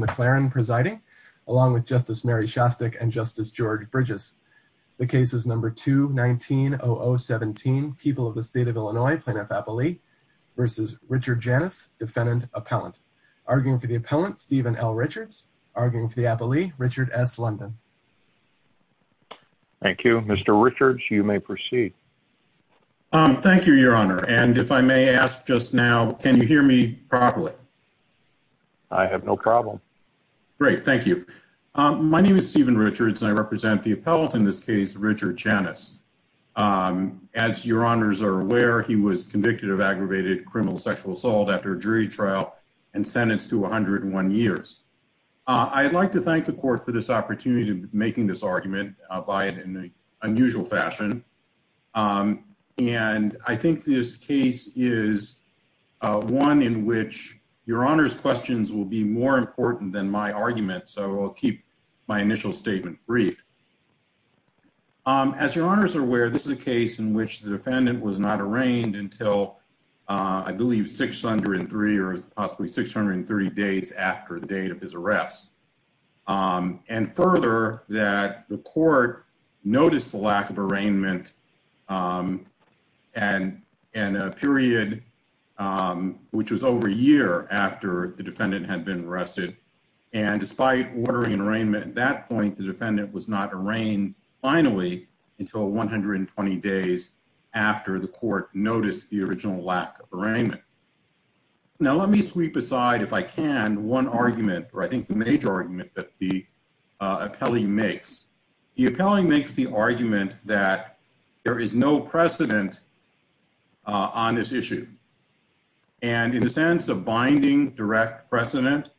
McClaren, presiding, along with Justice Mary Shostak and Justice George Bridges. The case is No. 2-19-0017, People of the State of Illinois, Plaintiff-Appellee v. Richard Janusz, Defendant-Appellant. Arguing for the Appellant, Stephen L. Richards. Arguing for the Appellee, Richard S. London. Thank you. Mr. Richards, you may proceed. Thank you, Your Honor. And if I may ask just now, can you hear me properly? I have no problem. Great, thank you. My name is Stephen Richards, and I represent the Appellant in this case, Richard Janusz. As Your Honors are aware, he was convicted of aggravated criminal sexual assault after a jury trial and sentenced to 101 years. I'd like to thank the Court for this opportunity of making this argument, albeit in an unusual fashion. And I think this case is one in which Your Honor's questions will be more important than my argument, so I'll keep my initial statement brief. As Your Honors are aware, this is a case in which the Defendant was not arraigned until, I believe, 603 or possibly 630 days after the date of his arrest. And further, that the Court noticed the lack of arraignment in a period which was over a year after the Defendant had been arrested. And despite ordering an arraignment at that point, the Defendant was not arraigned finally until 120 days after the Court noticed the original lack of arraignment. Now, let me sweep aside, if I can, one argument, or I think the major argument that the Appellee makes. The Appellee makes the argument that there is no precedent on this issue. And in the sense of binding direct precedent,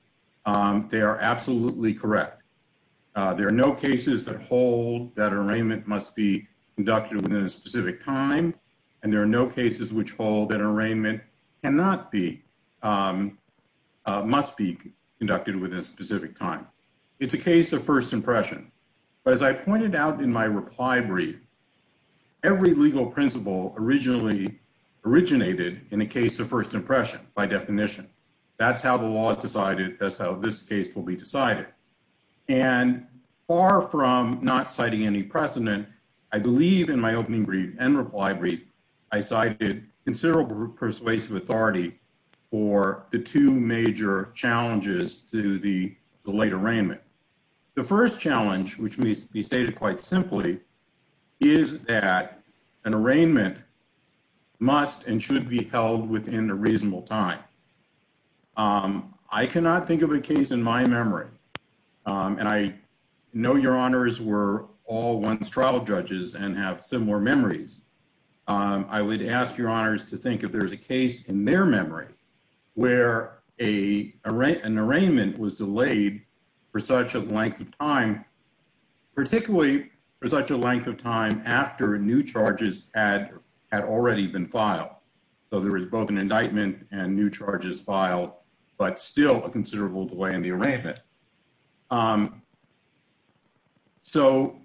they are absolutely correct. There are no cases that hold that an arraignment must be conducted within a specific time, and there are no cases which hold that an arraignment cannot be, must be conducted within a specific time. It's a case of first impression. But as I pointed out in my reply brief, every legal principle originally originated in a case of first impression, by definition. That's how the law is fully decided. And far from not citing any precedent, I believe in my opening brief and reply brief, I cited considerable persuasive authority for the two major challenges to the late arraignment. The first challenge, which needs to be stated quite simply, is that an arraignment must and should be held within a reasonable time. I cannot think of a case in my memory, and I know Your Honors were all once trial judges and have similar memories. I would ask Your Honors to think if there's a case in their memory where an arraignment was delayed for such a length of time, particularly for such a length of time after new charges had already been filed. So there was both an indictment and new charges filed, but still a considerable delay in the arraignment. So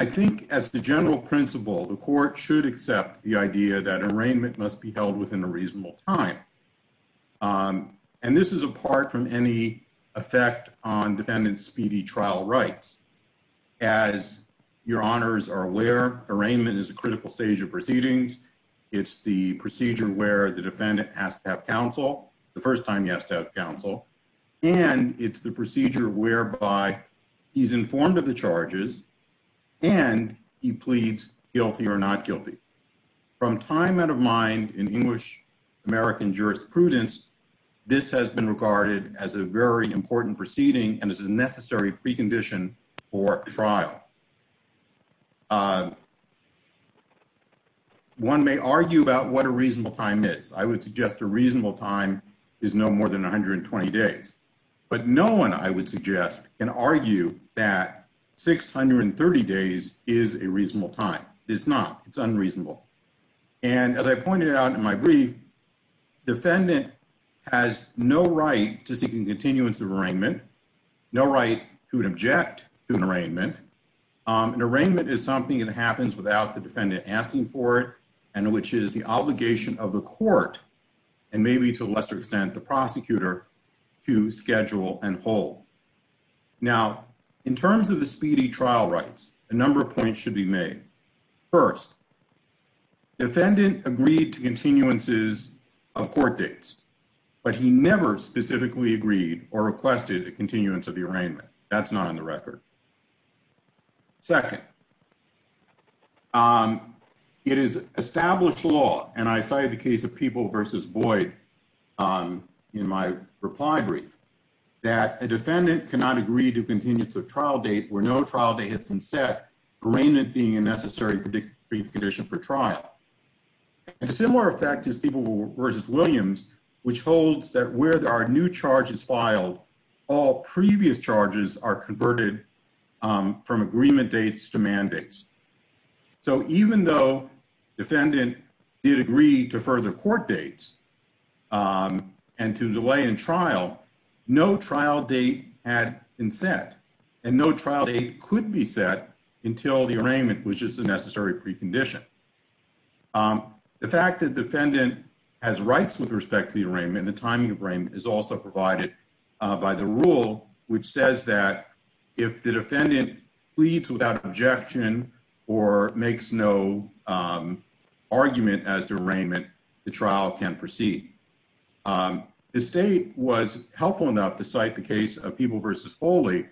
I think as the general principle, the court should accept the idea that an arraignment must be held within a reasonable time. And this is apart from any effect on defendant's speedy trial rights. As Your Honors are aware, arraignment is a critical stage of proceedings. It's the procedure where the defendant has to have counsel, the first time he has to have counsel, and it's the procedure whereby he's informed of the charges and he pleads guilty or not guilty. From time out of mind in English American jurisprudence, this has been regarded as a important proceeding and as a necessary precondition for trial. One may argue about what a reasonable time is. I would suggest a reasonable time is no more than 120 days. But no one, I would suggest, can argue that 630 days is a reasonable time. It's not. It's unreasonable. And as I pointed out in my brief, defendant has no right to seek a continuance of arraignment, no right to object to an arraignment. An arraignment is something that happens without the defendant asking for it and which is the obligation of the court and maybe to a lesser extent the prosecutor to schedule and hold. Now, in terms of the speedy trial rights, a number of points should be made. First, defendant agreed to continuances of court dates, but he never specifically agreed or requested a continuance of the arraignment. That's not on the record. Second, it is established law, and I cited the case of People v. Boyd in my reply brief, that a defendant cannot agree to continuance of trial date where no trial date has been set, arraignment being a necessary condition for trial. And a similar effect is People v. Williams, which holds that where there are new charges filed, all previous charges are converted from agreement dates to mandates. So even though defendant did agree to further court dates and to delay in trial, no trial date had been set, and no trial date could be set until the arraignment was just a necessary precondition. The fact that defendant has rights with respect to the arraignment and the timing of arraignment is also provided by the rule, which says that if the defendant pleads without objection or makes no argument as to arraignment, the trial can proceed. The state was helpful enough to cite the case of People v. Foley,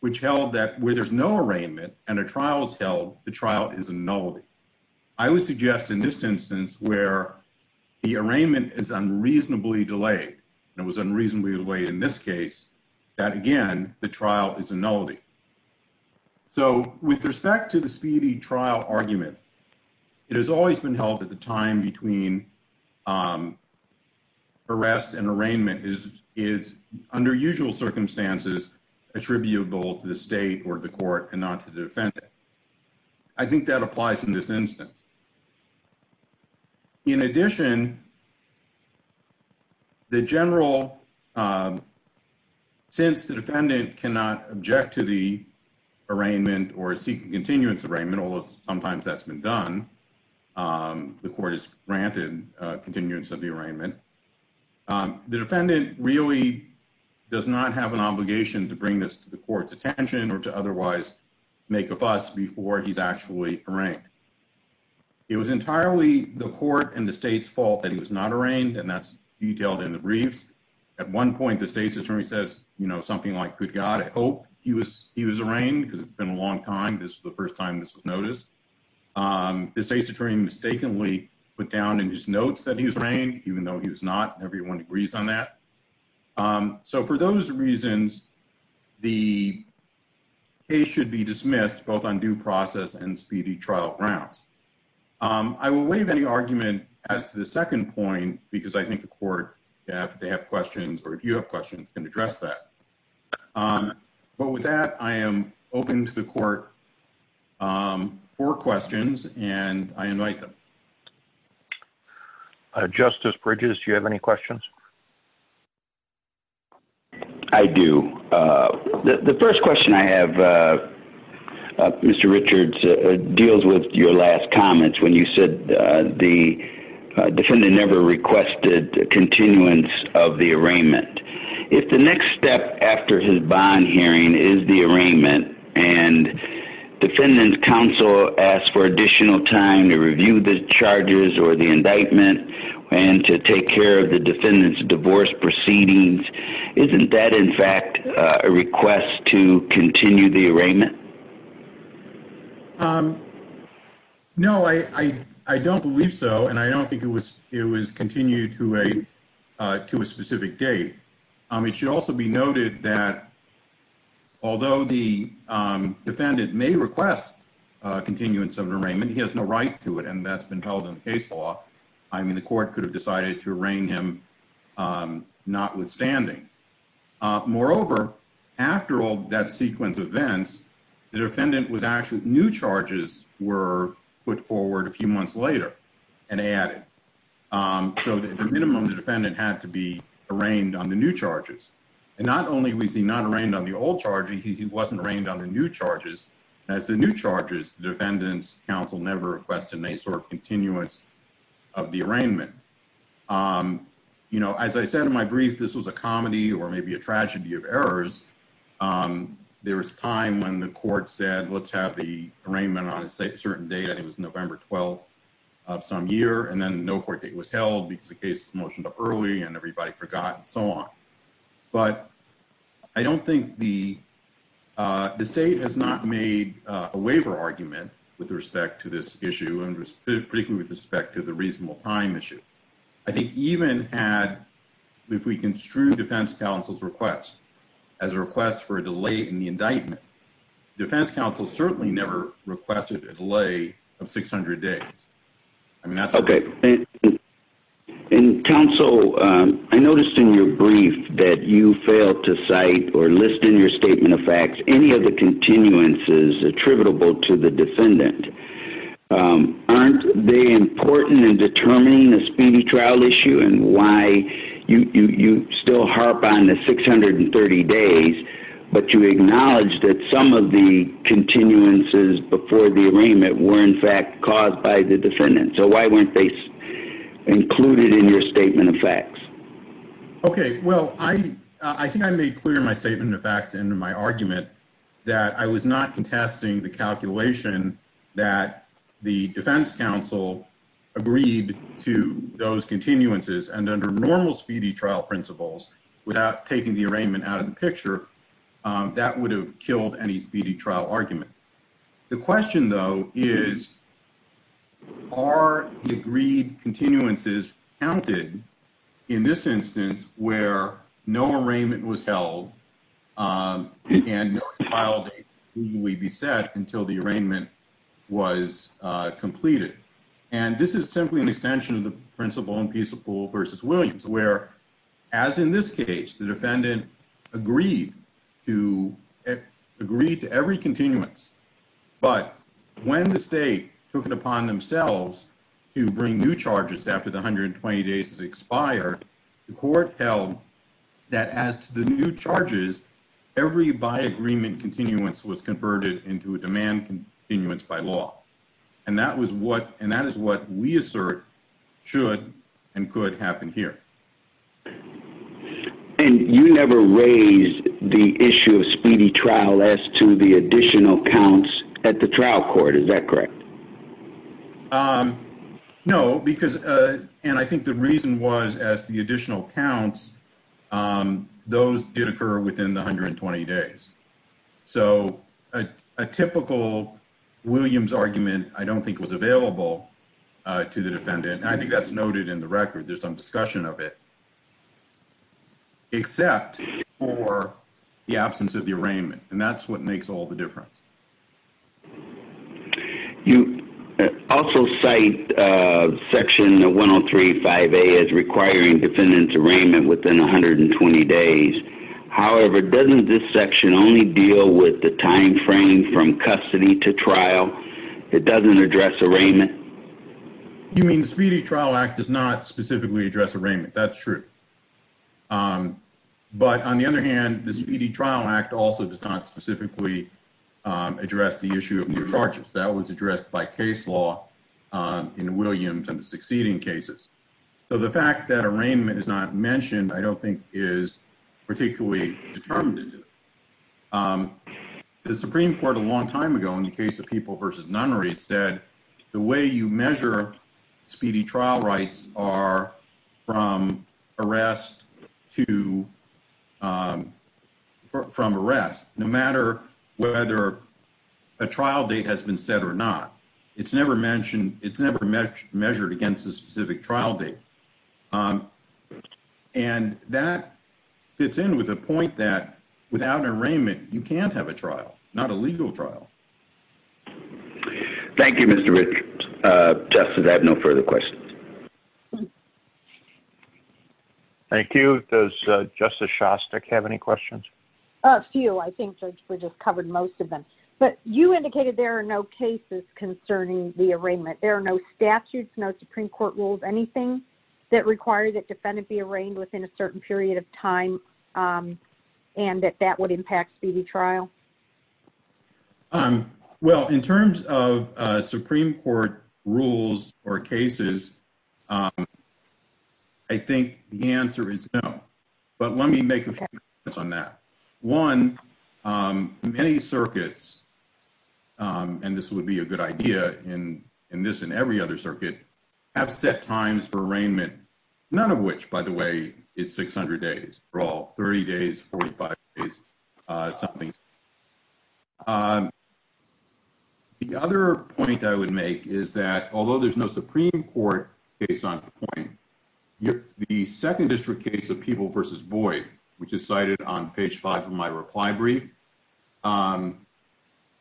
which held that where there's no arraignment and a trial is held, the trial is a nullity. I would suggest in this instance where the arraignment is unreasonably delayed, and it was unreasonably delayed in this case, that again, the trial is a nullity. So with respect to the speedy trial argument, it has always been held that the time between arrest and arraignment is, under usual circumstances, attributable to the state or the court and not to the defendant. I think that applies in this instance. In addition, the general, since the defendant cannot object to the arraignment or seek a continuance although sometimes that's been done, the court has granted continuance of the arraignment, the defendant really does not have an obligation to bring this to the court's attention or to otherwise make a fuss before he's actually arraigned. It was entirely the court and the state's fault that he was not arraigned, and that's detailed in the briefs. At one point, the state's attorney says, you know, something like, good God, I hope he was he was arraigned because it's been a long time, this is the first time this was noticed. The state's attorney mistakenly put down in his notes that he was arraigned, even though he was not, everyone agrees on that. So for those reasons, the case should be dismissed, both on due process and speedy trial grounds. I will waive any argument as to the second point, because I think the court, they have questions, or if you have questions, can address that. But with that, I am open to the court for questions, and I invite them. Justice Bridges, do you have any questions? I do. The first question I have, Mr. Richards, deals with your last comments when you said the defendant never requested continuance of the arraignment. If the next step after his bond hearing is the arraignment, and defendant's counsel asks for additional time to review the charges or the indictment, and to take care of the defendant's divorce proceedings, isn't that, in fact, a request to continue the arraignment? No, I don't believe so, and I don't think it was continued to a specific date. It should also be noted that although the defendant may request continuance of an arraignment, he has no right to it, and that's been held in the case law. I mean, the court could have decided to arraign him notwithstanding. Moreover, after all that sequence of events, the defendant was actually, new charges were put forward a few months later, and added. So, at the minimum, the defendant had to be arraigned on the new charges. And not only was he not arraigned on the old charges, he wasn't arraigned on the new charges. As the new charges, the defendant's counsel never requested any sort continuance of the arraignment. You know, as I said in my brief, this was a comedy or maybe a tragedy of errors. There was a time when the court said, let's have the arraignment on a certain date. I think it was November 12th of some year, and then no court date was held because the case motioned up early, and everybody forgot, and so on. But I don't think the state has not made a waiver argument with respect to this issue, and particularly with respect to the reasonable time issue. I think even had, if we construed defense counsel's request as a request for a delay in the indictment, defense counsel certainly never requested a delay of 600 days. I mean, that's okay. And counsel, I noticed in your brief that you failed to cite or list in your statement of any of the continuances attributable to the defendant. Aren't they important in determining the speedy trial issue and why you still harp on the 630 days, but you acknowledge that some of the continuances before the arraignment were, in fact, caused by the defendant? So why weren't they included in your statement of facts? Okay. Well, I think I made clear in my statement of facts and in my argument that I was not contesting the calculation that the defense counsel agreed to those continuances, and under normal speedy trial principles, without taking the arraignment out of the picture, that would have killed any speedy trial argument. The question, though, is are the agreed continuances counted in this instance where no arraignment was held, and no expile date would be set until the arraignment was completed? And this is simply an extension of the principle in Peacepool v. Williams, where, as in this case, the defendant agreed to every continuance. But when the state took it upon themselves to bring new charges after the 120 days had expired, the court held that as to the new charges, every by agreement continuance was converted into a demand continuance by law. And that is what we assert should and could happen here. And you never raised the issue of speedy trial as to the additional counts at the trial court. Is that correct? No. And I think the reason was as to the additional counts, those did occur within the 120 days. So a typical Williams argument I don't think was available to the defendant. And I think that's noted in the record. There's some discussion of it. Except for the absence of the arraignment. And that's what makes all the difference. You also cite section 103.5a as requiring defendant's arraignment within 120 days. However, doesn't this section only deal with the time frame from custody to trial? It doesn't address arraignment? You mean the Speedy Trial Act does not specifically address arraignment? That's true. But on the other hand, the Speedy Trial Act also does not specifically address the issue of new charges. That was addressed by case law in Williams and the succeeding cases. So the fact that arraignment is not mentioned I don't think is particularly determined into it. The Supreme Court a long time ago in the case of people versus nunnery said, the way you measure speedy trial rights are from arrest to from arrest, no matter whether a trial date has been set or not. It's never mentioned, it's never measured against a specific trial date. And that fits in with the point that without an arraignment, you can't have a trial, not a legal trial. Thank you, Mr. Richards. Justice, I have no further questions. Thank you. Does Justice Shostak have any questions? A few. I think we just covered most of them. But you indicated there are no cases concerning the arraignment. There are no statutes, no Supreme Court rules, anything that requires that defendant be arraigned within a certain period of time and that that would impact speedy trial? Well, in terms of Supreme Court rules or cases, I think the answer is no. But let me make a few comments on that. One, many circuits, and this would be a good idea in this and every other circuit, have set times for arraignment, none of which, by the way, is 600 days. They're all 30 days, 45 days, something. The other point I would make is that although there's no Supreme Court case on the point, the second district case of Peeble v. Boyd, which is cited on page five of my reply brief,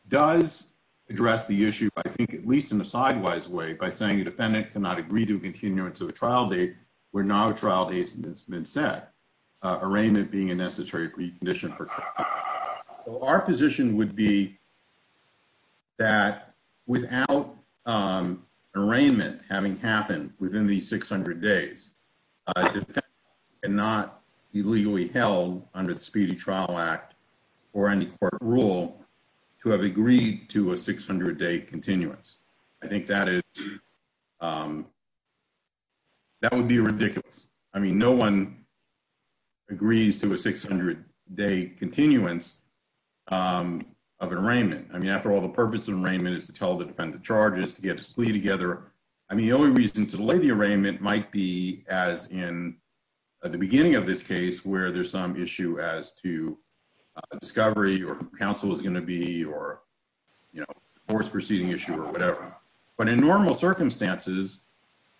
does address the issue, I think at least in a sideways way, by saying a defendant cannot agree to a continuance of a trial date where no trial date has been set, arraignment being a necessary precondition for trial. So our position would be that without arraignment having happened within these 600 days, a defendant cannot be legally held under the Speedy Trial Act or any court rule to have agreed to a 600-day continuance. I think that would be ridiculous. I mean, no one agrees to a 600-day continuance of an arraignment. I mean, after all, the purpose of an arraignment is to tell the defendant the charges, to get a plea together. I mean, the only reason to delay the arraignment might be as in the beginning of this case where there's some issue as to discovery or who counsel is going to be or divorce proceeding issue or whatever. But in normal circumstances,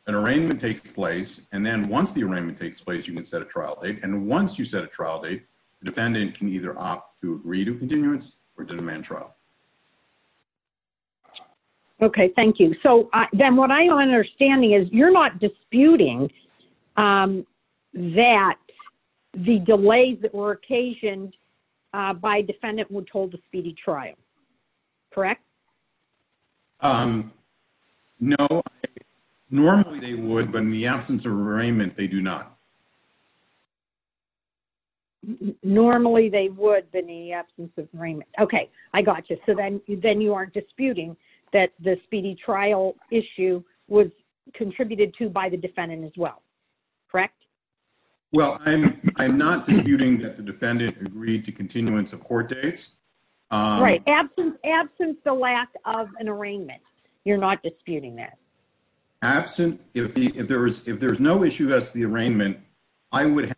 an arraignment takes place, and then once the arraignment takes place, you can set a trial date. And once you set a trial date, the defendant can either opt to agree to continuance or to demand trial. Okay, thank you. So then what I'm understanding is you're not disputing that the delays that were occasioned by a defendant were told to speedy trial, correct? No, normally they would, but in the absence of arraignment, they do not. Normally they would, but in the absence of arraignment. Okay, I got you. So then you aren't disputing that the speedy trial issue was contributed to by the defendant as well, correct? Well, I'm not disputing that the defendant agreed to continuance of court dates. Right. Absent the lack of an arraignment, you're not disputing that. Absent, if there's no issue as to the arraignment, I would have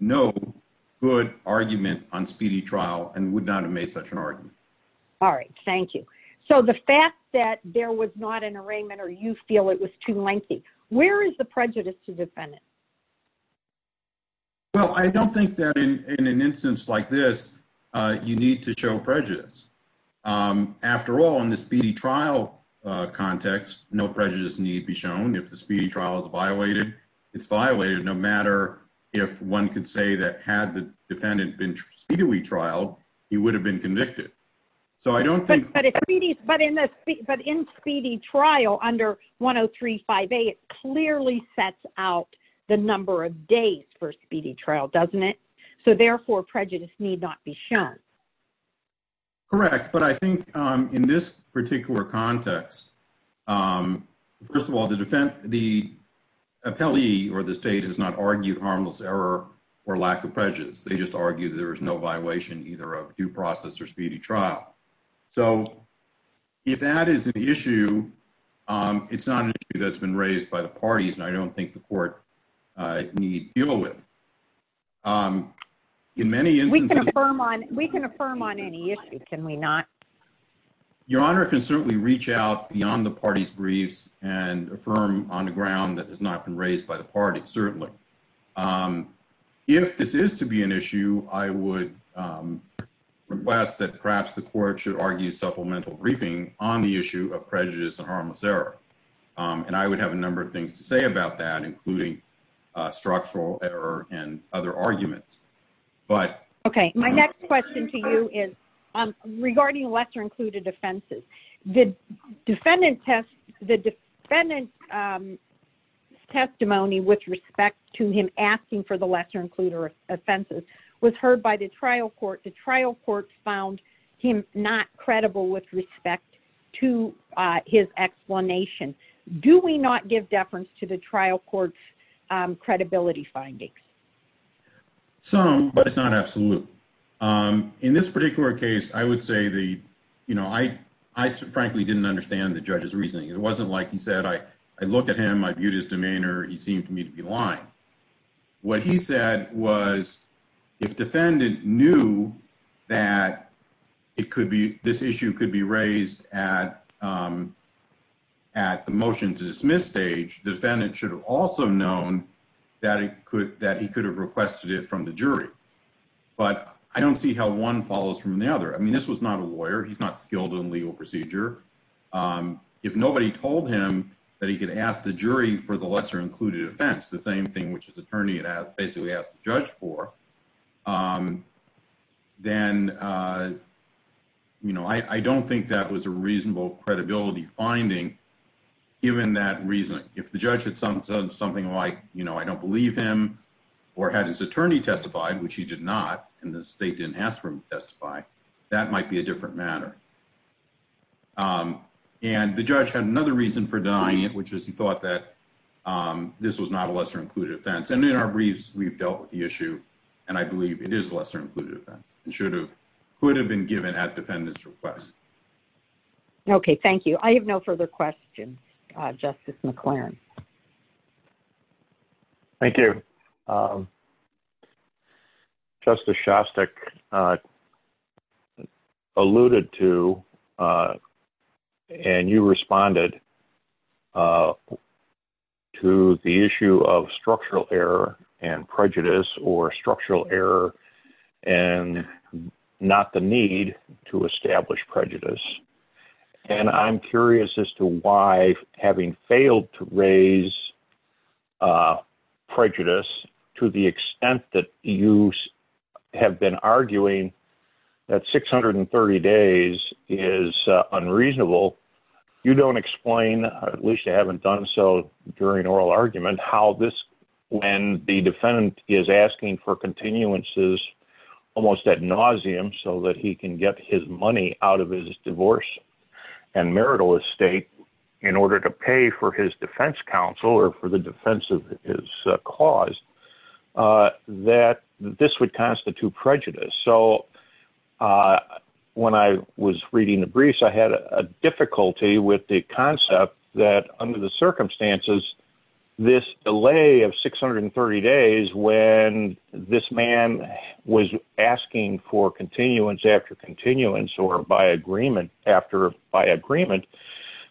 no good argument on speedy trial and would not have such an argument. All right, thank you. So the fact that there was not an arraignment or you feel it was too lengthy, where is the prejudice to defend it? Well, I don't think that in an instance like this, you need to show prejudice. After all, in the speedy trial context, no prejudice need be shown. If the speedy trial is violated, it's violated no matter if one could say that had the defendant been speedily trialed, he would have been convicted. So I don't think- But in speedy trial under 1035A, it clearly sets out the number of days for speedy trial, doesn't it? So therefore, prejudice need not be shown. Correct. But I think in this particular context, first of all, the defendant, the appellee or the state has not argued harmless error or lack of prejudice. They just argue there is no violation either of due process or speedy trial. So if that is an issue, it's not an issue that's been raised by the parties and I don't think the court need deal with. In many instances- We can affirm on any issue, can we not? Your Honor can certainly reach out beyond the party's briefs and affirm on the ground that has not been raised by the party, certainly. If this is to be an issue, I would request that perhaps the court should argue supplemental briefing on the issue of prejudice and harmless error. And I would have a number of things to say about that, including structural error and other arguments. But- Okay. My next question to you is regarding lesser included offenses. The defendant's testimony with respect to him asking for the lesser included offenses was heard by the trial court. The trial court found him not credible with respect to his explanation. Do we not give deference to the trial court's credibility findings? Some, but it's not absolute. In this particular case, I would say the- I frankly didn't understand the judge's reasoning. It wasn't like he said, I looked at him, I viewed his demeanor, he seemed to me to be lying. What he said was if defendant knew that it could be- this issue could be raised at the motion to dismiss stage, the defendant should have also known that he could have requested it from the jury. But I don't see how one follows from the other. I mean, this was not a lawyer, he's not skilled in legal procedure. If nobody told him that he could ask the jury for the lesser included offense, the same thing which his attorney had basically asked the judge for, then I don't think that was a reasonable credibility finding given that reasoning. If the judge had said something like, I don't believe him or had his attorney testified, which he did not, and the state didn't ask for him to testify, that might be a different matter. And the judge had another reason for denying it, which is he thought that this was not a lesser included offense. And in our briefs, we've dealt with the issue, and I believe it is lesser included offense and should have- could have been given at defendant's request. Okay, thank you. I have no further questions. Justice McLaren. Thank you. Justice Shostak alluded to, and you responded to the issue of structural error and prejudice or structural error and not the need to establish prejudice. And I'm curious as to why, having failed to raise prejudice to the extent that you have been arguing that 630 days is unreasonable, you don't explain, at least you haven't done so during oral argument, how this- when the defendant is asking for continuances almost at nauseam so that he can get his money out of his divorce and marital estate in order to pay for his defense counsel or for the defense of his cause, that this would constitute prejudice. So when I was reading the briefs, I had a difficulty with the concept that under the circumstances, this delay of 630 days when this man was asking for continuance after continuance or by agreement after by agreement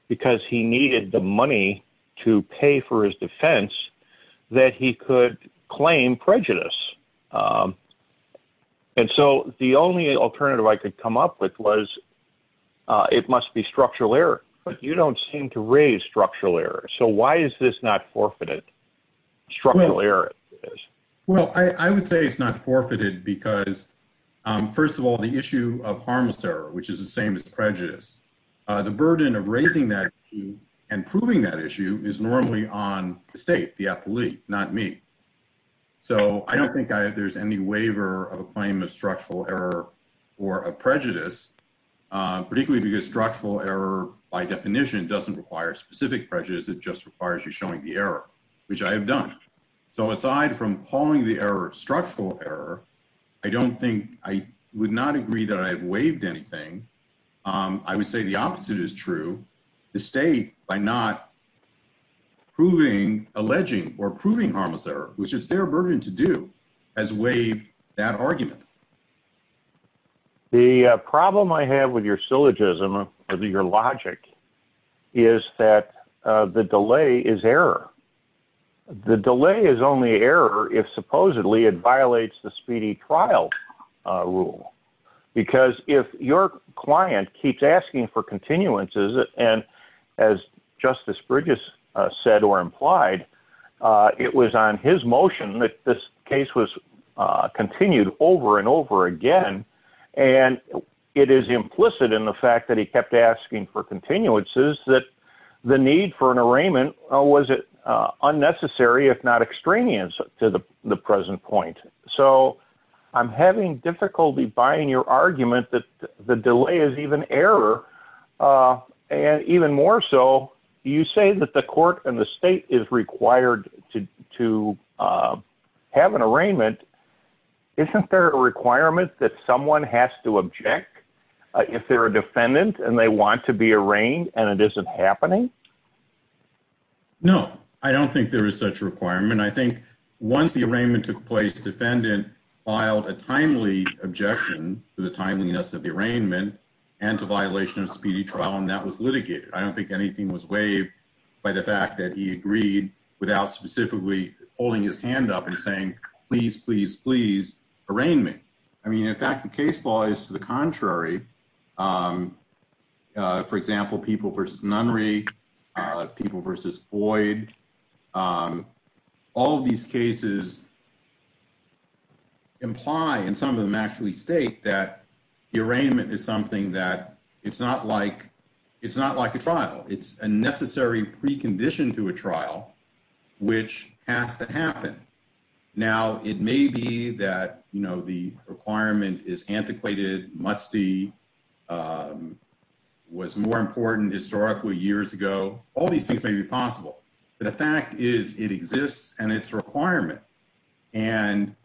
because he needed the money to pay for his defense that he could claim prejudice. And so the only alternative I could come up with was it must be structural error, but you don't seem to raise structural error. So why is this not forfeited, structural error? Well, I would say it's not forfeited because, first of all, the issue of harmless error, which is the same as prejudice, the burden of raising that issue and proving that issue is normally on the state, the appellee, not me. So I don't think there's any waiver of a claim of structural error or of prejudice, particularly because structural error by definition doesn't require specific prejudice, it just requires you showing the error, which I have done. So aside from calling the error structural error, I don't think I would not agree that I've waived anything. I would say the opposite is true. The state, by not proving alleging or proving harmless error, which is their burden to do, has waived that argument. The problem I have with your syllogism or your logic is that the delay is error. The delay is only error if supposedly it violates the speedy trial rule. Because if your client keeps asking for continuances, and as Justice Bridges said or implied, it was on his motion that this case was continued over and over again, and it is implicit in the fact that he kept asking for continuances that the need for an arraignment was unnecessary if not extraneous to the present point. So I'm having difficulty buying your argument that the delay is even error, and even more so, you say that the court and the state is required to have an arraignment. Isn't there a requirement that someone has to object if they're a defendant and they want to be arraigned and it isn't happening? No, I don't think there is such a requirement. I think once the arraignment took place, defendant filed a timely objection to the timeliness of the arraignment and to violation of speedy trial, that was litigated. I don't think anything was waived by the fact that he agreed without specifically holding his hand up and saying, please, please, please arraign me. I mean, in fact, the case law is to the contrary. For example, people versus Nunry, people versus Boyd, all of these cases imply, and some of them actually state that the arraignment is something that it's not like, it's not like a trial. It's a necessary precondition to a trial, which has to happen. Now, it may be that, you know, the requirement is antiquated, must be, was more important historically years ago. All these things may be possible, but the fact is it exists and it's requirement. And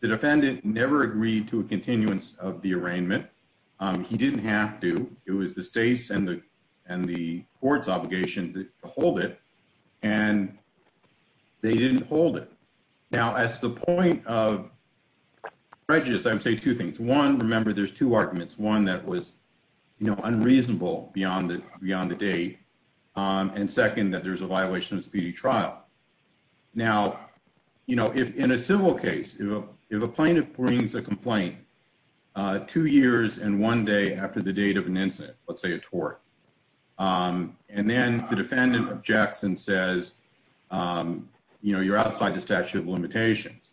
the defendant never agreed to a continuance of the arraignment. He didn't have to. It was the state's and the court's obligation to hold it. And they didn't hold it. Now, as the point of prejudice, I would say two things. One, remember, there's two arguments. One that was unreasonable beyond the date. And second, that there's a violation of speedy trial. Now, you know, if in a civil case, if a plaintiff brings a complaint two years and one day after the date of an incident, let's say a tort, and then the defendant objects and says, you know, you're outside the statute of limitations.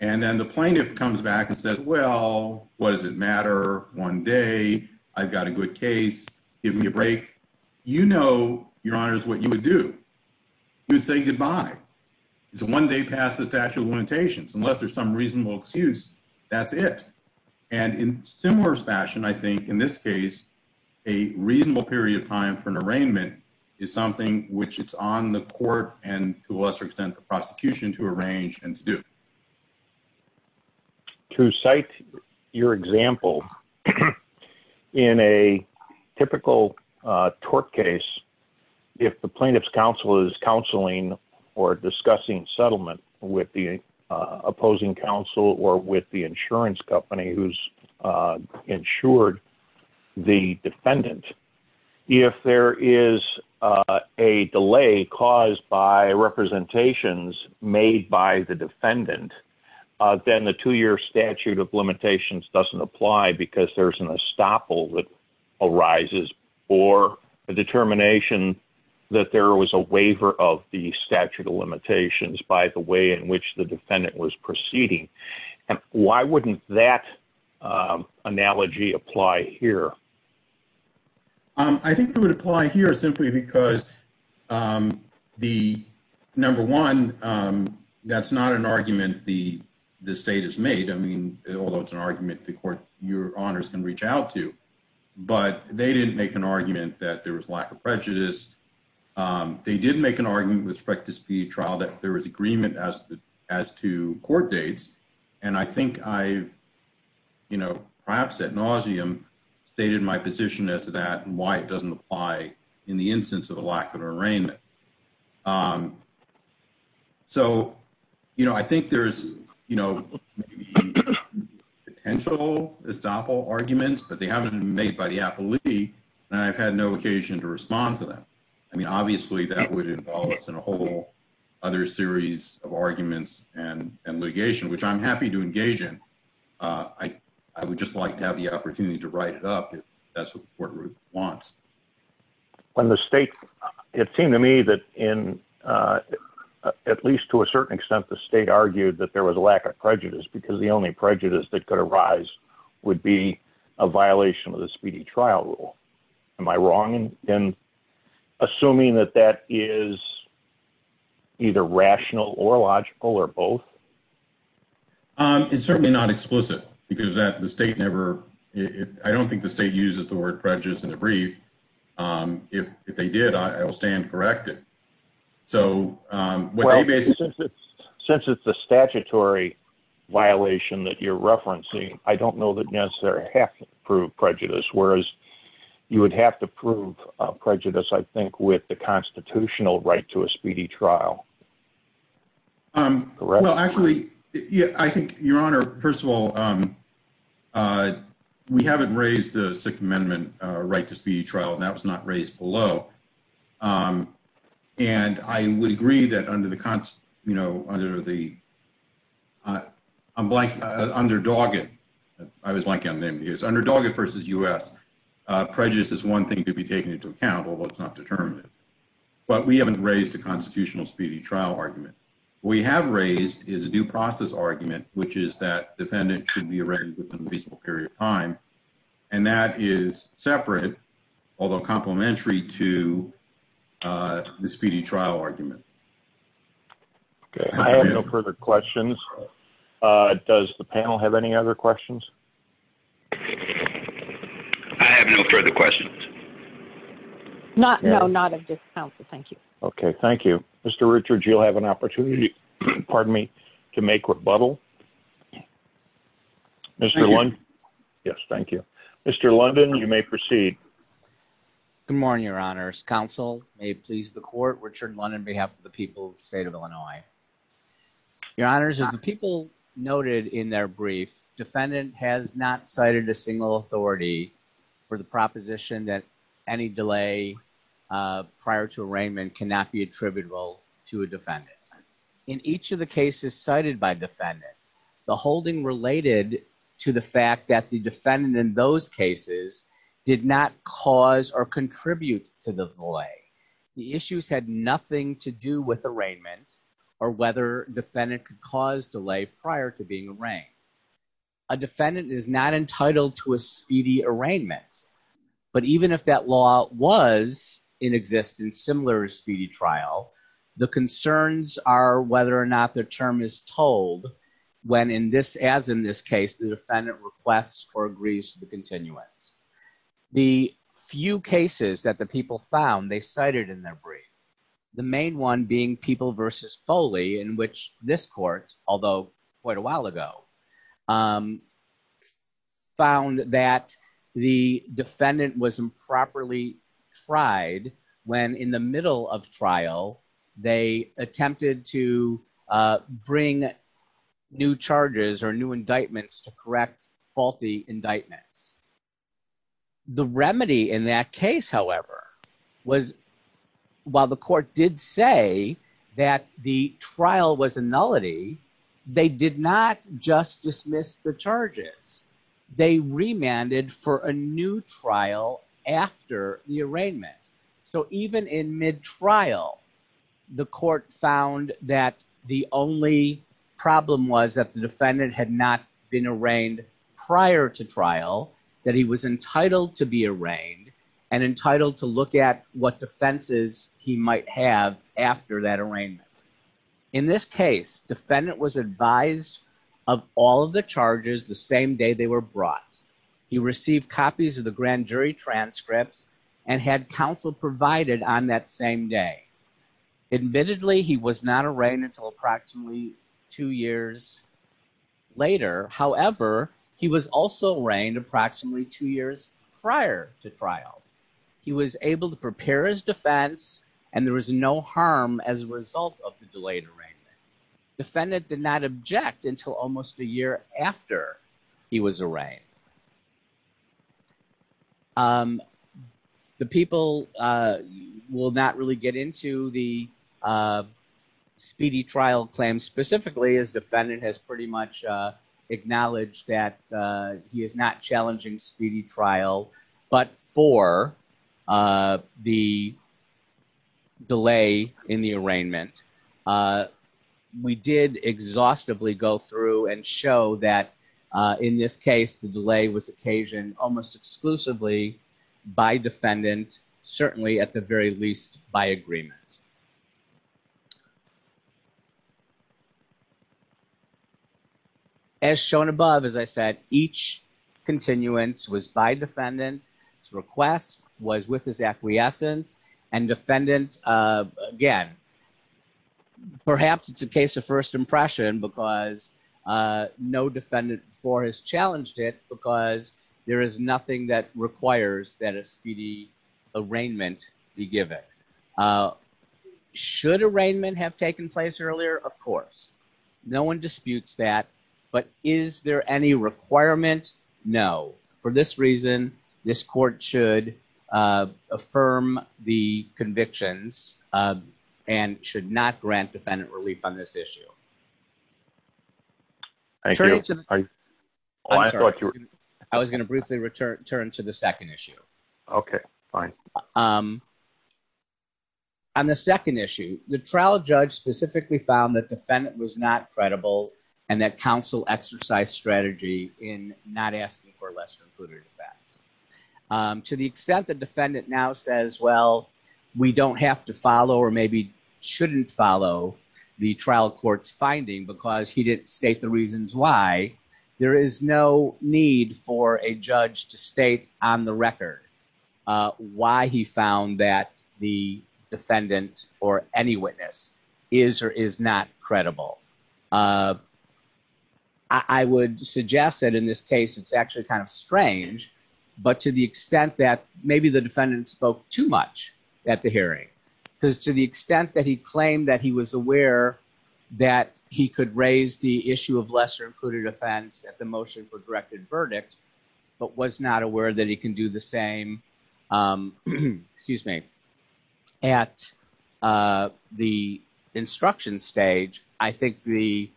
And then the plaintiff comes back and says, well, what does it matter? One day, I've got a good case, give me a break. You know, your honor, is what you would do. You would say goodbye. It's one day past the statute of limitations, unless there's some reasonable excuse, that's it. And in similar fashion, I think in this case, a reasonable period of time for an arraignment is something which it's on the court and to a lesser extent, the prosecution to arrange and to do. To cite your example, in a typical tort case, if the plaintiff's counsel is counseling or discussing settlement with the opposing counsel or with the insurance company who's insured the defendant, if there is a delay caused by representations made by the defendant, then the two-year statute of limitations doesn't apply because there's an estoppel that arises, or a determination that there was a waiver of the statute of limitations by the way in which the defendant was proceeding. And why wouldn't that analogy apply here? I think it would apply here simply because, number one, that's not an argument the state has made. I mean, although it's an argument the court, your honors can reach out to, but they didn't make an argument that there was lack of prejudice. They didn't make an argument with respect to speed trial that there was agreement as to court dates. And I think I've perhaps ad nauseum stated my position as to that and why it doesn't apply in the instance of a lack of an arraignment. So I think there's potential estoppel arguments, but they haven't been made by the appellee, and I've had no occasion to respond to them. I mean, obviously that would involve us in a whole other series of arguments and litigation, which I'm happy to engage in. I would just like to have the opportunity to write it up if that's what the court wants. When the state, it seemed to me that in, at least to a certain extent, the state argued that there was a lack of prejudice because the would be a violation of the speedy trial rule. Am I wrong in assuming that that is either rational or logical or both? It's certainly not explicit because the state never, I don't think the state uses the word prejudice in the brief. If they did, I will stand corrected. So since it's a statutory violation that you're referencing, I don't know that necessarily have to prove prejudice, whereas you would have to prove prejudice, I think, with the constitutional right to a speedy trial. Well, actually, I think your honor, first of all, we haven't raised the amendment right to speedy trial, and that was not raised below. And I would agree that under Doggett versus U.S., prejudice is one thing to be taken into account, although it's not determinative. But we haven't raised a constitutional speedy trial argument. What we have raised is a due process argument, which is that defendant should be arraigned within a reasonable period of time, and that is separate, although complementary to the speedy trial argument. I have no further questions. Does the panel have any other questions? I have no further questions. No, not at this time, so thank you. Okay, thank you. Mr. Richards, you'll have an opportunity, pardon me, to make rebuttal. Mr. Lundin? Yes, thank you. Mr. Lundin, you may proceed. Good morning, your honors. Counsel may please the court, Richard Lundin on behalf of the people of the state of Illinois. Your honors, as the people noted in their brief, defendant has not cited a single authority for the proposition that any delay prior to arraignment cannot be attributable to a defendant. In each of the cases cited by defendant, the holding related to the fact that the defendant in those cases did not cause or contribute to the delay. The issues had nothing to do with arraignment or whether defendant could cause delay prior to being arraigned. A defendant is not entitled to a speedy arraignment, but even if that law was in existence in similar speedy trial, the concerns are whether or not the term is told when, as in this case, the defendant requests or agrees to the continuance. The few cases that the people found they cited in their brief, the main one being People v. Foley, in which this court, although quite a while ago, found that the defendant was improperly tried when in the middle of trial they attempted to bring new charges or new indictments to correct faulty indictments. The remedy in that case, however, was while the court did say that the trial was a they did not just dismiss the charges. They remanded for a new trial after the arraignment. So even in mid-trial, the court found that the only problem was that the defendant had not been arraigned prior to trial, that he was entitled to be arraigned and entitled to look at what defenses he might have after that arraignment. In this case, defendant was advised of all of the charges the same day they were brought. He received copies of the grand jury transcripts and had counsel provided on that same day. Admittedly, he was not arraigned until approximately two years later. However, he was also arraigned approximately two years prior to trial. He was able to prepare his defense and there was no harm as a result of the delayed arraignment. Defendant did not object until almost a year after he was arraigned. The people will not really get into the speedy trial claim specifically as defendant has pretty much acknowledged that he is not challenging speedy trial, but for the delay in the arraignment. We did exhaustively go through and show that in this case, the delay was occasioned almost exclusively by defendant, certainly at the very least by agreement. As shown above, as I said, each continuance was by defendant. His request was with his acquiescence and defendant, again, perhaps it's a case of first impression because no defendant before has challenged it because there is nothing that requires that a speedy arraignment be given. Should arraignment have taken place earlier? Of course. No one disputes that, but is there any requirement? No. For this reason, this court should affirm the convictions and should not grant defendant relief on this issue. I was going to briefly return to the second issue. On the second issue, the trial judge specifically found that defendant was not credible and that counsel exercised strategy in not asking for lesser included facts. To the extent that defendant now says, well, we don't have to follow or maybe shouldn't follow the trial court's finding because he didn't state the reasons why, there is no need for a judge to state on the record why he found that the defendant or any witness is or is not credible. I would suggest that in this case, it's actually kind of strange, but to the extent that maybe the defendant spoke too much at the hearing, because to the extent that he claimed that he was aware that he could raise the issue of lesser included offense at the motion for directed verdict, but was not aware that he can do the same, excuse me, at the instruction stage, I think the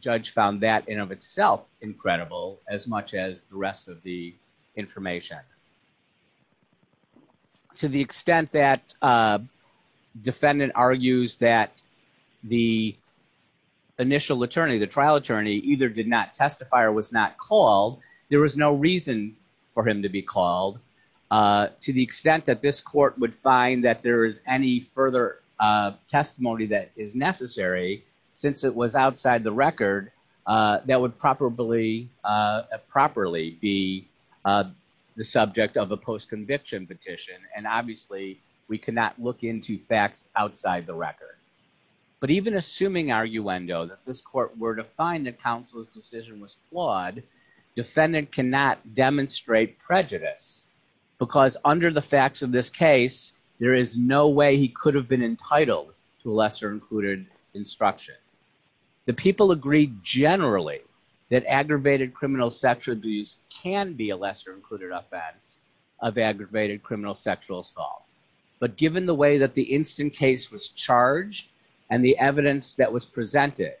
judge found that in of itself incredible as much as the rest of the information. To the extent that defendant argues that the initial attorney, the trial attorney either did not testify or was not called, there was no reason for him to be called. To the extent that this court would find that there is any further testimony that is necessary, since it was outside the record, that would probably properly be the subject of a post-conviction petition. And obviously, we cannot look into facts outside the record. But even assuming arguendo that this court were to find that counsel's decision was flawed, defendant cannot demonstrate prejudice, because under the facts of this case, there is no way he could have been entitled to a lesser included instruction. The people agreed generally that aggravated criminal sexual abuse can be a lesser included offense of aggravated criminal sexual assault. But given the way that the instant case was charged and the evidence that was presented,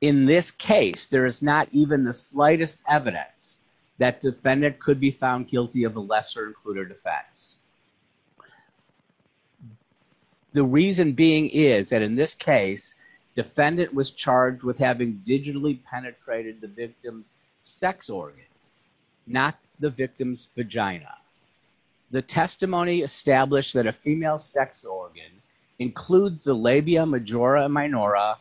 in this case, there is not even the slightest evidence that defendant could be found guilty of a lesser included offense. The reason being is that in this case, defendant was charged with having digitally penetrated the victim's vagina. The testimony established that a female sex organ includes the labia majora and minora,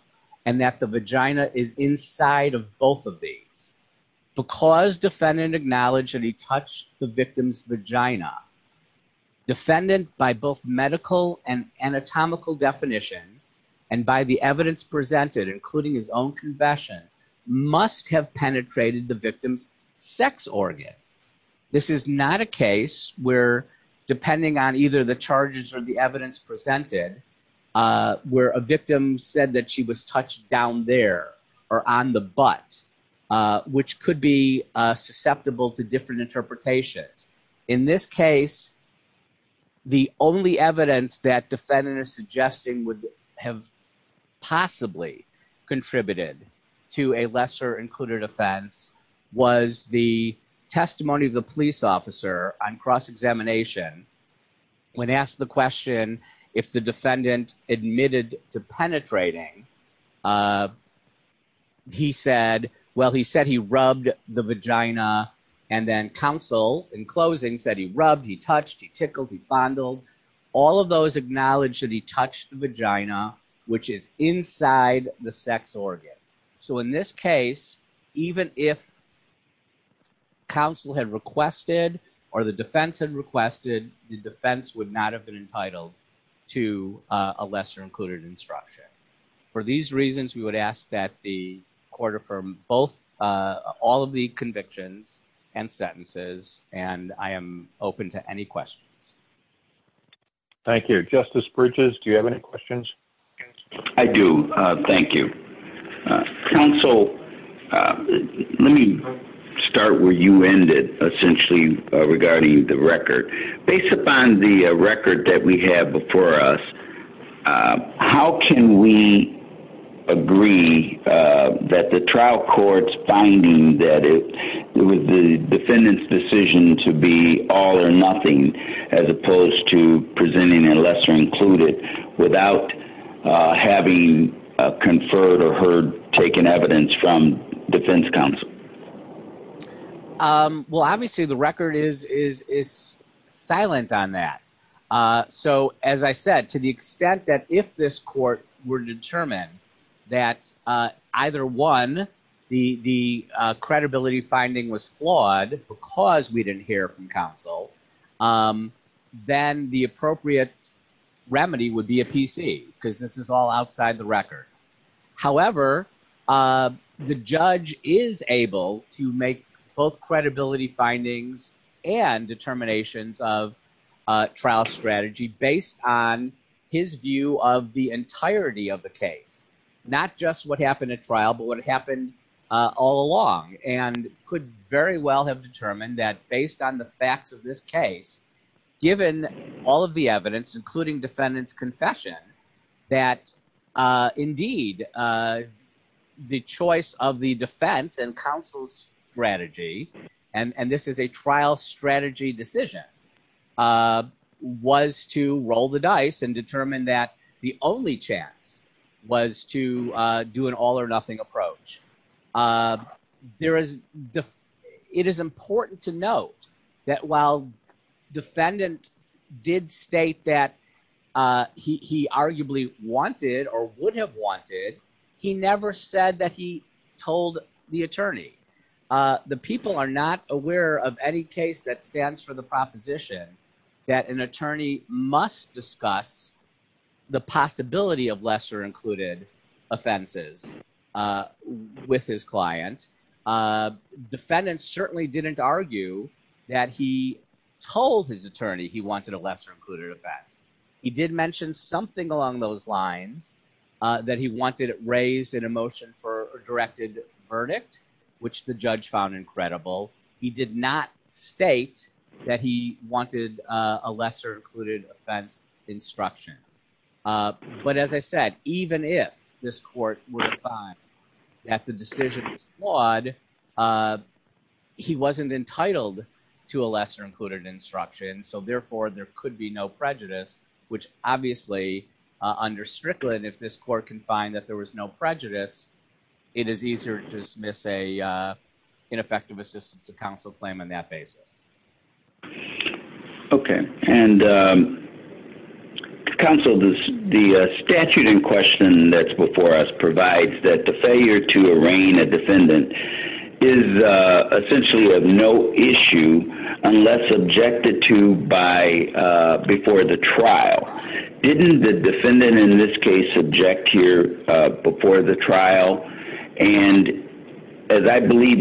and that the vagina is inside of both of these. Because defendant acknowledged that he touched the victim's vagina, defendant, by both medical and anatomical definition, and by the evidence presented, including his own confession, must have penetrated the victim's sex organ. This is not a case where, depending on either the charges or the evidence presented, where a victim said that she was touched down there, or on the butt, which could be susceptible to different interpretations. In this case, the only evidence that defendant is suggesting would have possibly contributed to a lesser included offense was the testimony of the police officer on cross-examination. When asked the question if the defendant admitted to penetrating, he said, well, he said he rubbed the vagina, and then counsel, in closing, said he rubbed, he touched, he tickled, he fondled. All of those acknowledged that he touched the vagina, which is inside the sex organ. So in this case, even if counsel had requested, or the defense had requested, the defense would not have been entitled to a lesser included instruction. For these reasons, we would ask that the court affirm both, all of the convictions and sentences, and I am open to any questions. Thank you. Justice Bridges, do you have any questions? I do. Thank you. Counsel, let me start where you ended, essentially, regarding the record. Based upon the record that we have before us, how can we agree that the trial court's finding that it was the defendant's decision to be all or nothing as opposed to presenting a lesser included without having conferred or heard taken evidence from defense counsel? Well, obviously, the record is silent on that. So as I said, to the extent that if this court were to determine that either one, the credibility finding was flawed because we didn't hear from counsel, then the appropriate remedy would be a PC, because this is all outside the record. However, the judge is able to make both credibility findings and determinations of trial strategy based on his view of the entirety of the case, not just what happened at trial, but what happened all along, and could very well have determined that based on the facts of this case, given all of the evidence, including defendant's confession, that indeed the choice of the defense and counsel's strategy, and this is a trial strategy decision, was to roll the dice and determine that the only chance was to do an all or nothing approach. It is important to note that while defendant did state that he arguably wanted or would have wanted, he never said that he told the attorney. The people are not aware of any case that stands for the proposition that an attorney must discuss the possibility of lesser included offenses with his client. Defendant certainly didn't argue that he told his attorney he wanted a lesser raised in a motion for a directed verdict, which the judge found incredible. He did not state that he wanted a lesser included offense instruction, but as I said, even if this court were to find that the decision was flawed, he wasn't entitled to a lesser included instruction, so therefore there could be no prejudice, which obviously under Strickland, if this court can find that there was no prejudice, it is easier to dismiss a ineffective assistance to counsel claim on that basis. Okay, and counsel, the statute in question that's before us provides that the failure to arraign a defendant is essentially of no issue unless objected to before the trial. Didn't the defendant in this case object here before the trial, and as I believe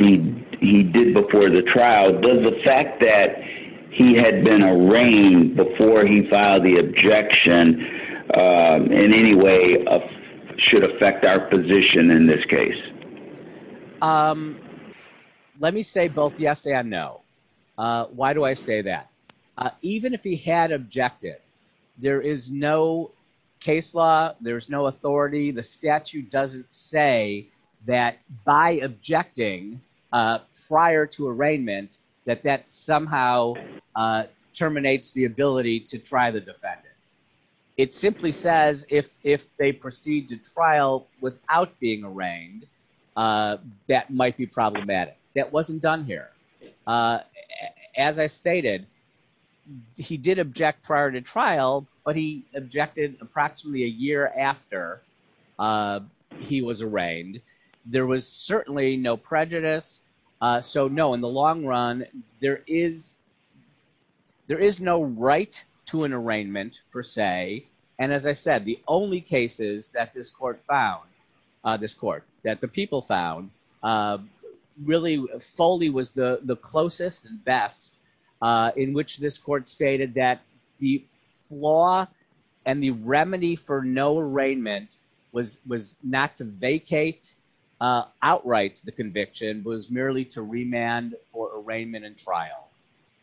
he did before the trial, does the fact that he had been arraigned before he filed the objection in any way should affect our position in this case? Let me say both yes and no. Why do I say that? Even if he had objected, there is no case law, there's no authority, the statute doesn't say that by objecting prior to arraignment that that somehow terminates the ability to try the defendant. It simply says if they proceed to trial without being arraigned, that might be problematic. That wasn't done here. As I stated, he did object prior to trial, but he objected approximately a year after he was arraigned. There was certainly no prejudice, so no, in the long run, there is no right to an arraignment per se, and as I said, the only cases that this court found, this court, that the people found, really, Foley was the closest and best in which this court stated that the flaw and the remedy for no arraignment was not to vacate outright the conviction, was merely to remand for arraignment and trial.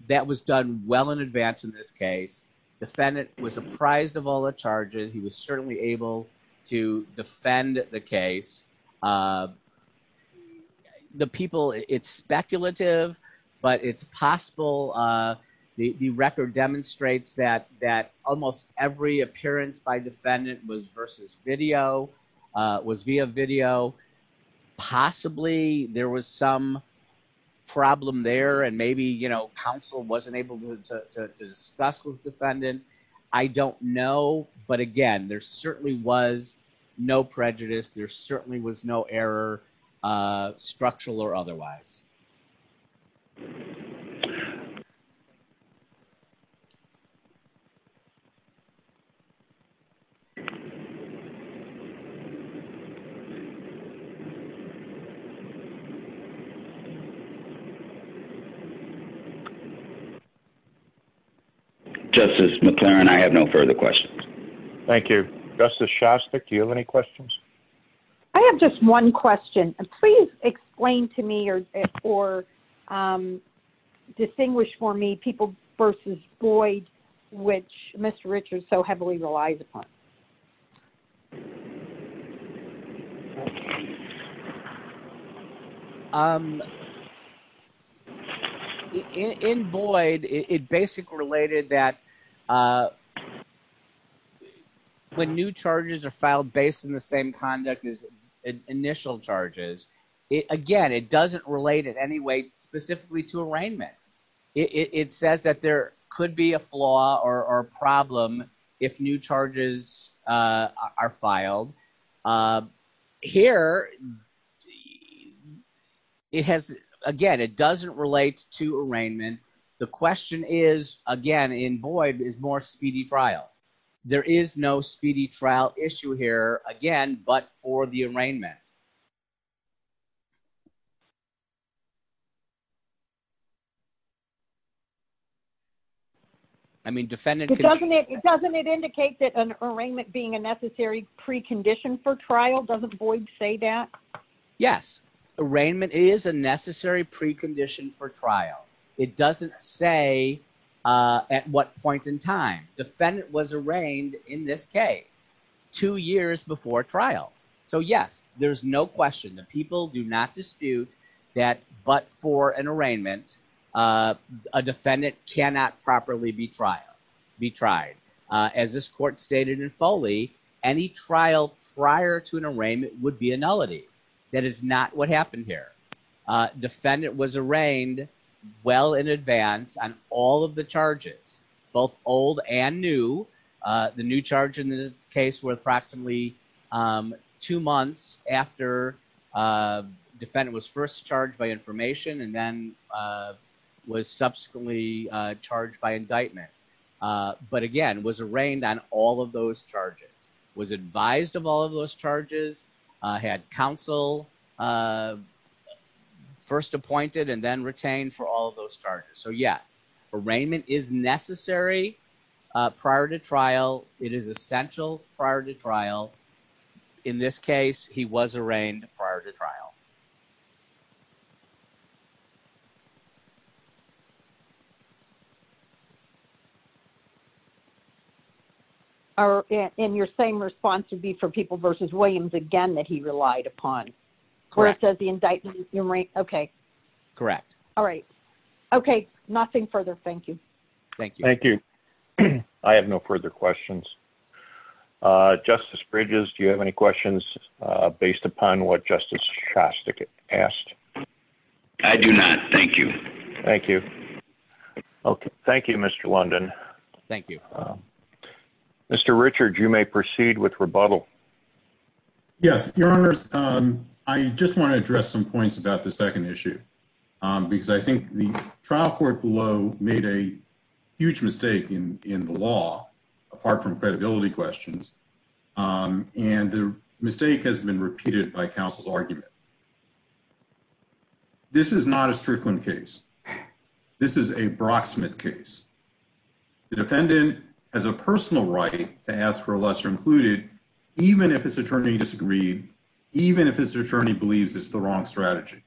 That was done well in advance in this case. The people, it's speculative, but it's possible. The record demonstrates that almost every appearance by defendant was versus video, was via video. Possibly, there was some problem there, and maybe counsel wasn't able to discuss with defendant. I don't know, but again, there certainly was no prejudice. There certainly was no error, structural or otherwise. Thank you. Justice McLaren, I have no further questions. Thank you. Justice Shostak, do you have any more distinguished for me people versus Boyd, which Mr. Richards so heavily relies upon? In Boyd, it basically related that when new charges are filed based on the same conduct as initial charges, again, it doesn't relate in any way specifically to arraignment. It says that there could be a flaw or problem if new charges are filed. Here, again, it doesn't relate to arraignment. The question is, again, in Boyd, is more speedy trial. There is no speedy trial issue here, again, but for the case. I mean, defendant- Doesn't it indicate that an arraignment being a necessary precondition for trial? Doesn't Boyd say that? Yes. Arraignment is a necessary precondition for trial. It doesn't say at what point in time. Defendant was arraigned in this that but for an arraignment, a defendant cannot properly be tried. As this court stated in Foley, any trial prior to an arraignment would be a nullity. That is not what happened here. Defendant was arraigned well in advance on all of the charges, both old and new. The new charge in this case were approximately two months after defendant was first charged by information and then was subsequently charged by indictment, but again, was arraigned on all of those charges, was advised of all of those charges, had counsel first appointed and then retained for all of those prior to trial. In this case, he was arraigned prior to trial. Are in your same response to be for people versus Williams again that he relied upon correct as the indictment? Okay. Correct. All right. Okay. Nothing further. Thank you. Thank you. Thank you. I have no further questions. Justice Bridges, do you have any questions based upon what Justice Shostak asked? I do not. Thank you. Thank you. Okay. Thank you, Mr. London. Thank you. Mr. Richard, you may proceed with rebuttal. Yes, your honors. I just want to address some huge mistake in the law, apart from credibility questions, and the mistake has been repeated by counsel's argument. This is not a Strickland case. This is a Brocksmith case. The defendant has a personal right to ask for a lesser included, even if his attorney disagreed, even if his attorney believes it's the wrong strategy.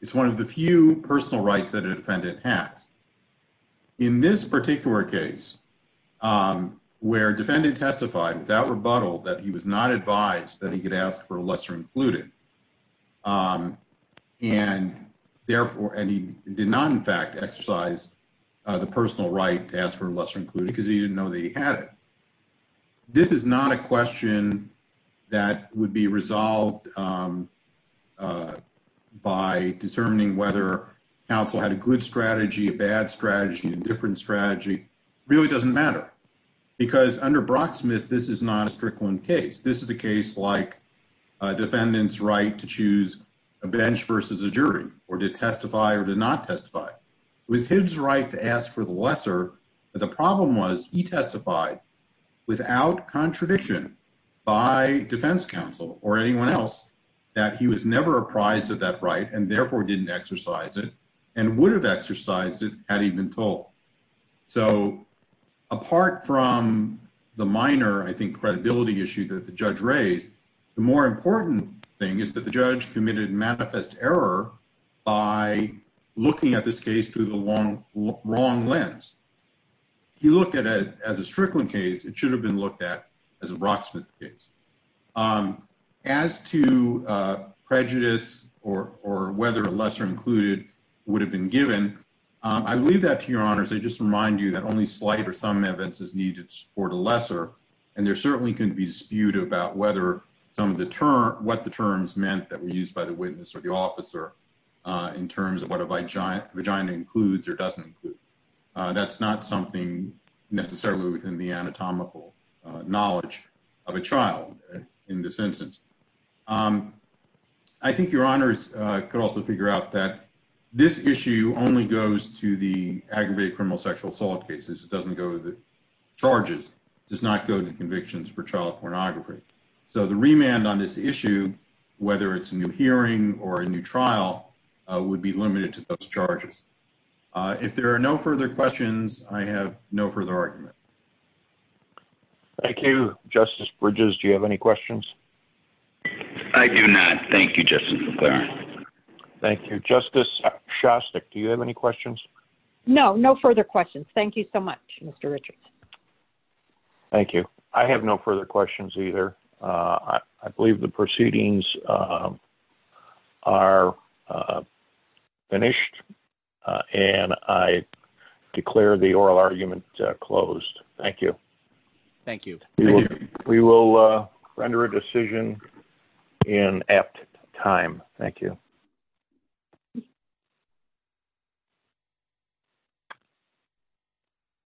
It's one of the few personal rights that a defendant has. In this particular case, where defendant testified without rebuttal that he was not advised that he could ask for a lesser included, and he did not, in fact, exercise the personal right to ask for a lesser included because he didn't know that he had it. This is not a question that would be by determining whether counsel had a good strategy, a bad strategy, a different strategy. Really doesn't matter because under Brocksmith, this is not a Strickland case. This is a case like a defendant's right to choose a bench versus a jury or to testify or to not testify. It was his right to ask for the lesser, but the problem was he testified without contradiction by defense counsel or anyone else that he was never apprised of that right and therefore didn't exercise it and would have exercised it had he been told. So apart from the minor, I think, credibility issue that the judge raised, the more important thing is that the judge committed manifest error by looking at this case through the wrong lens. He looked at it as a Strickland case. It should have been looked at as a Brocksmith case. As to prejudice or whether a lesser included would have been given, I leave that to your honors. I just remind you that only slight or some evidences need to support a lesser, and there certainly can be dispute about whether some of the terms, what the terms meant that were used by the witness or the officer in terms of what a vagina includes or doesn't include. That's not something necessarily within the anatomical knowledge of a child in this instance. I think your honors could also figure out that this issue only goes to the aggravated criminal sexual assault cases. It doesn't go to the charges, does not go to convictions for child pornography. So the remand on this issue, whether it's a new hearing or a new trial, would be limited to those charges. If there are no further questions, I have no further argument. Thank you. Justice Bridges, do you have any questions? I do not. Thank you, Justice McClaren. Thank you. Justice Shostak, do you have any questions? No, no further questions. Thank you so much, Mr. Richards. Thank you. I have no further questions either. I believe the proceedings are finished. And I declare the oral argument closed. Thank you. Thank you. We will render a decision in apt time. Thank you.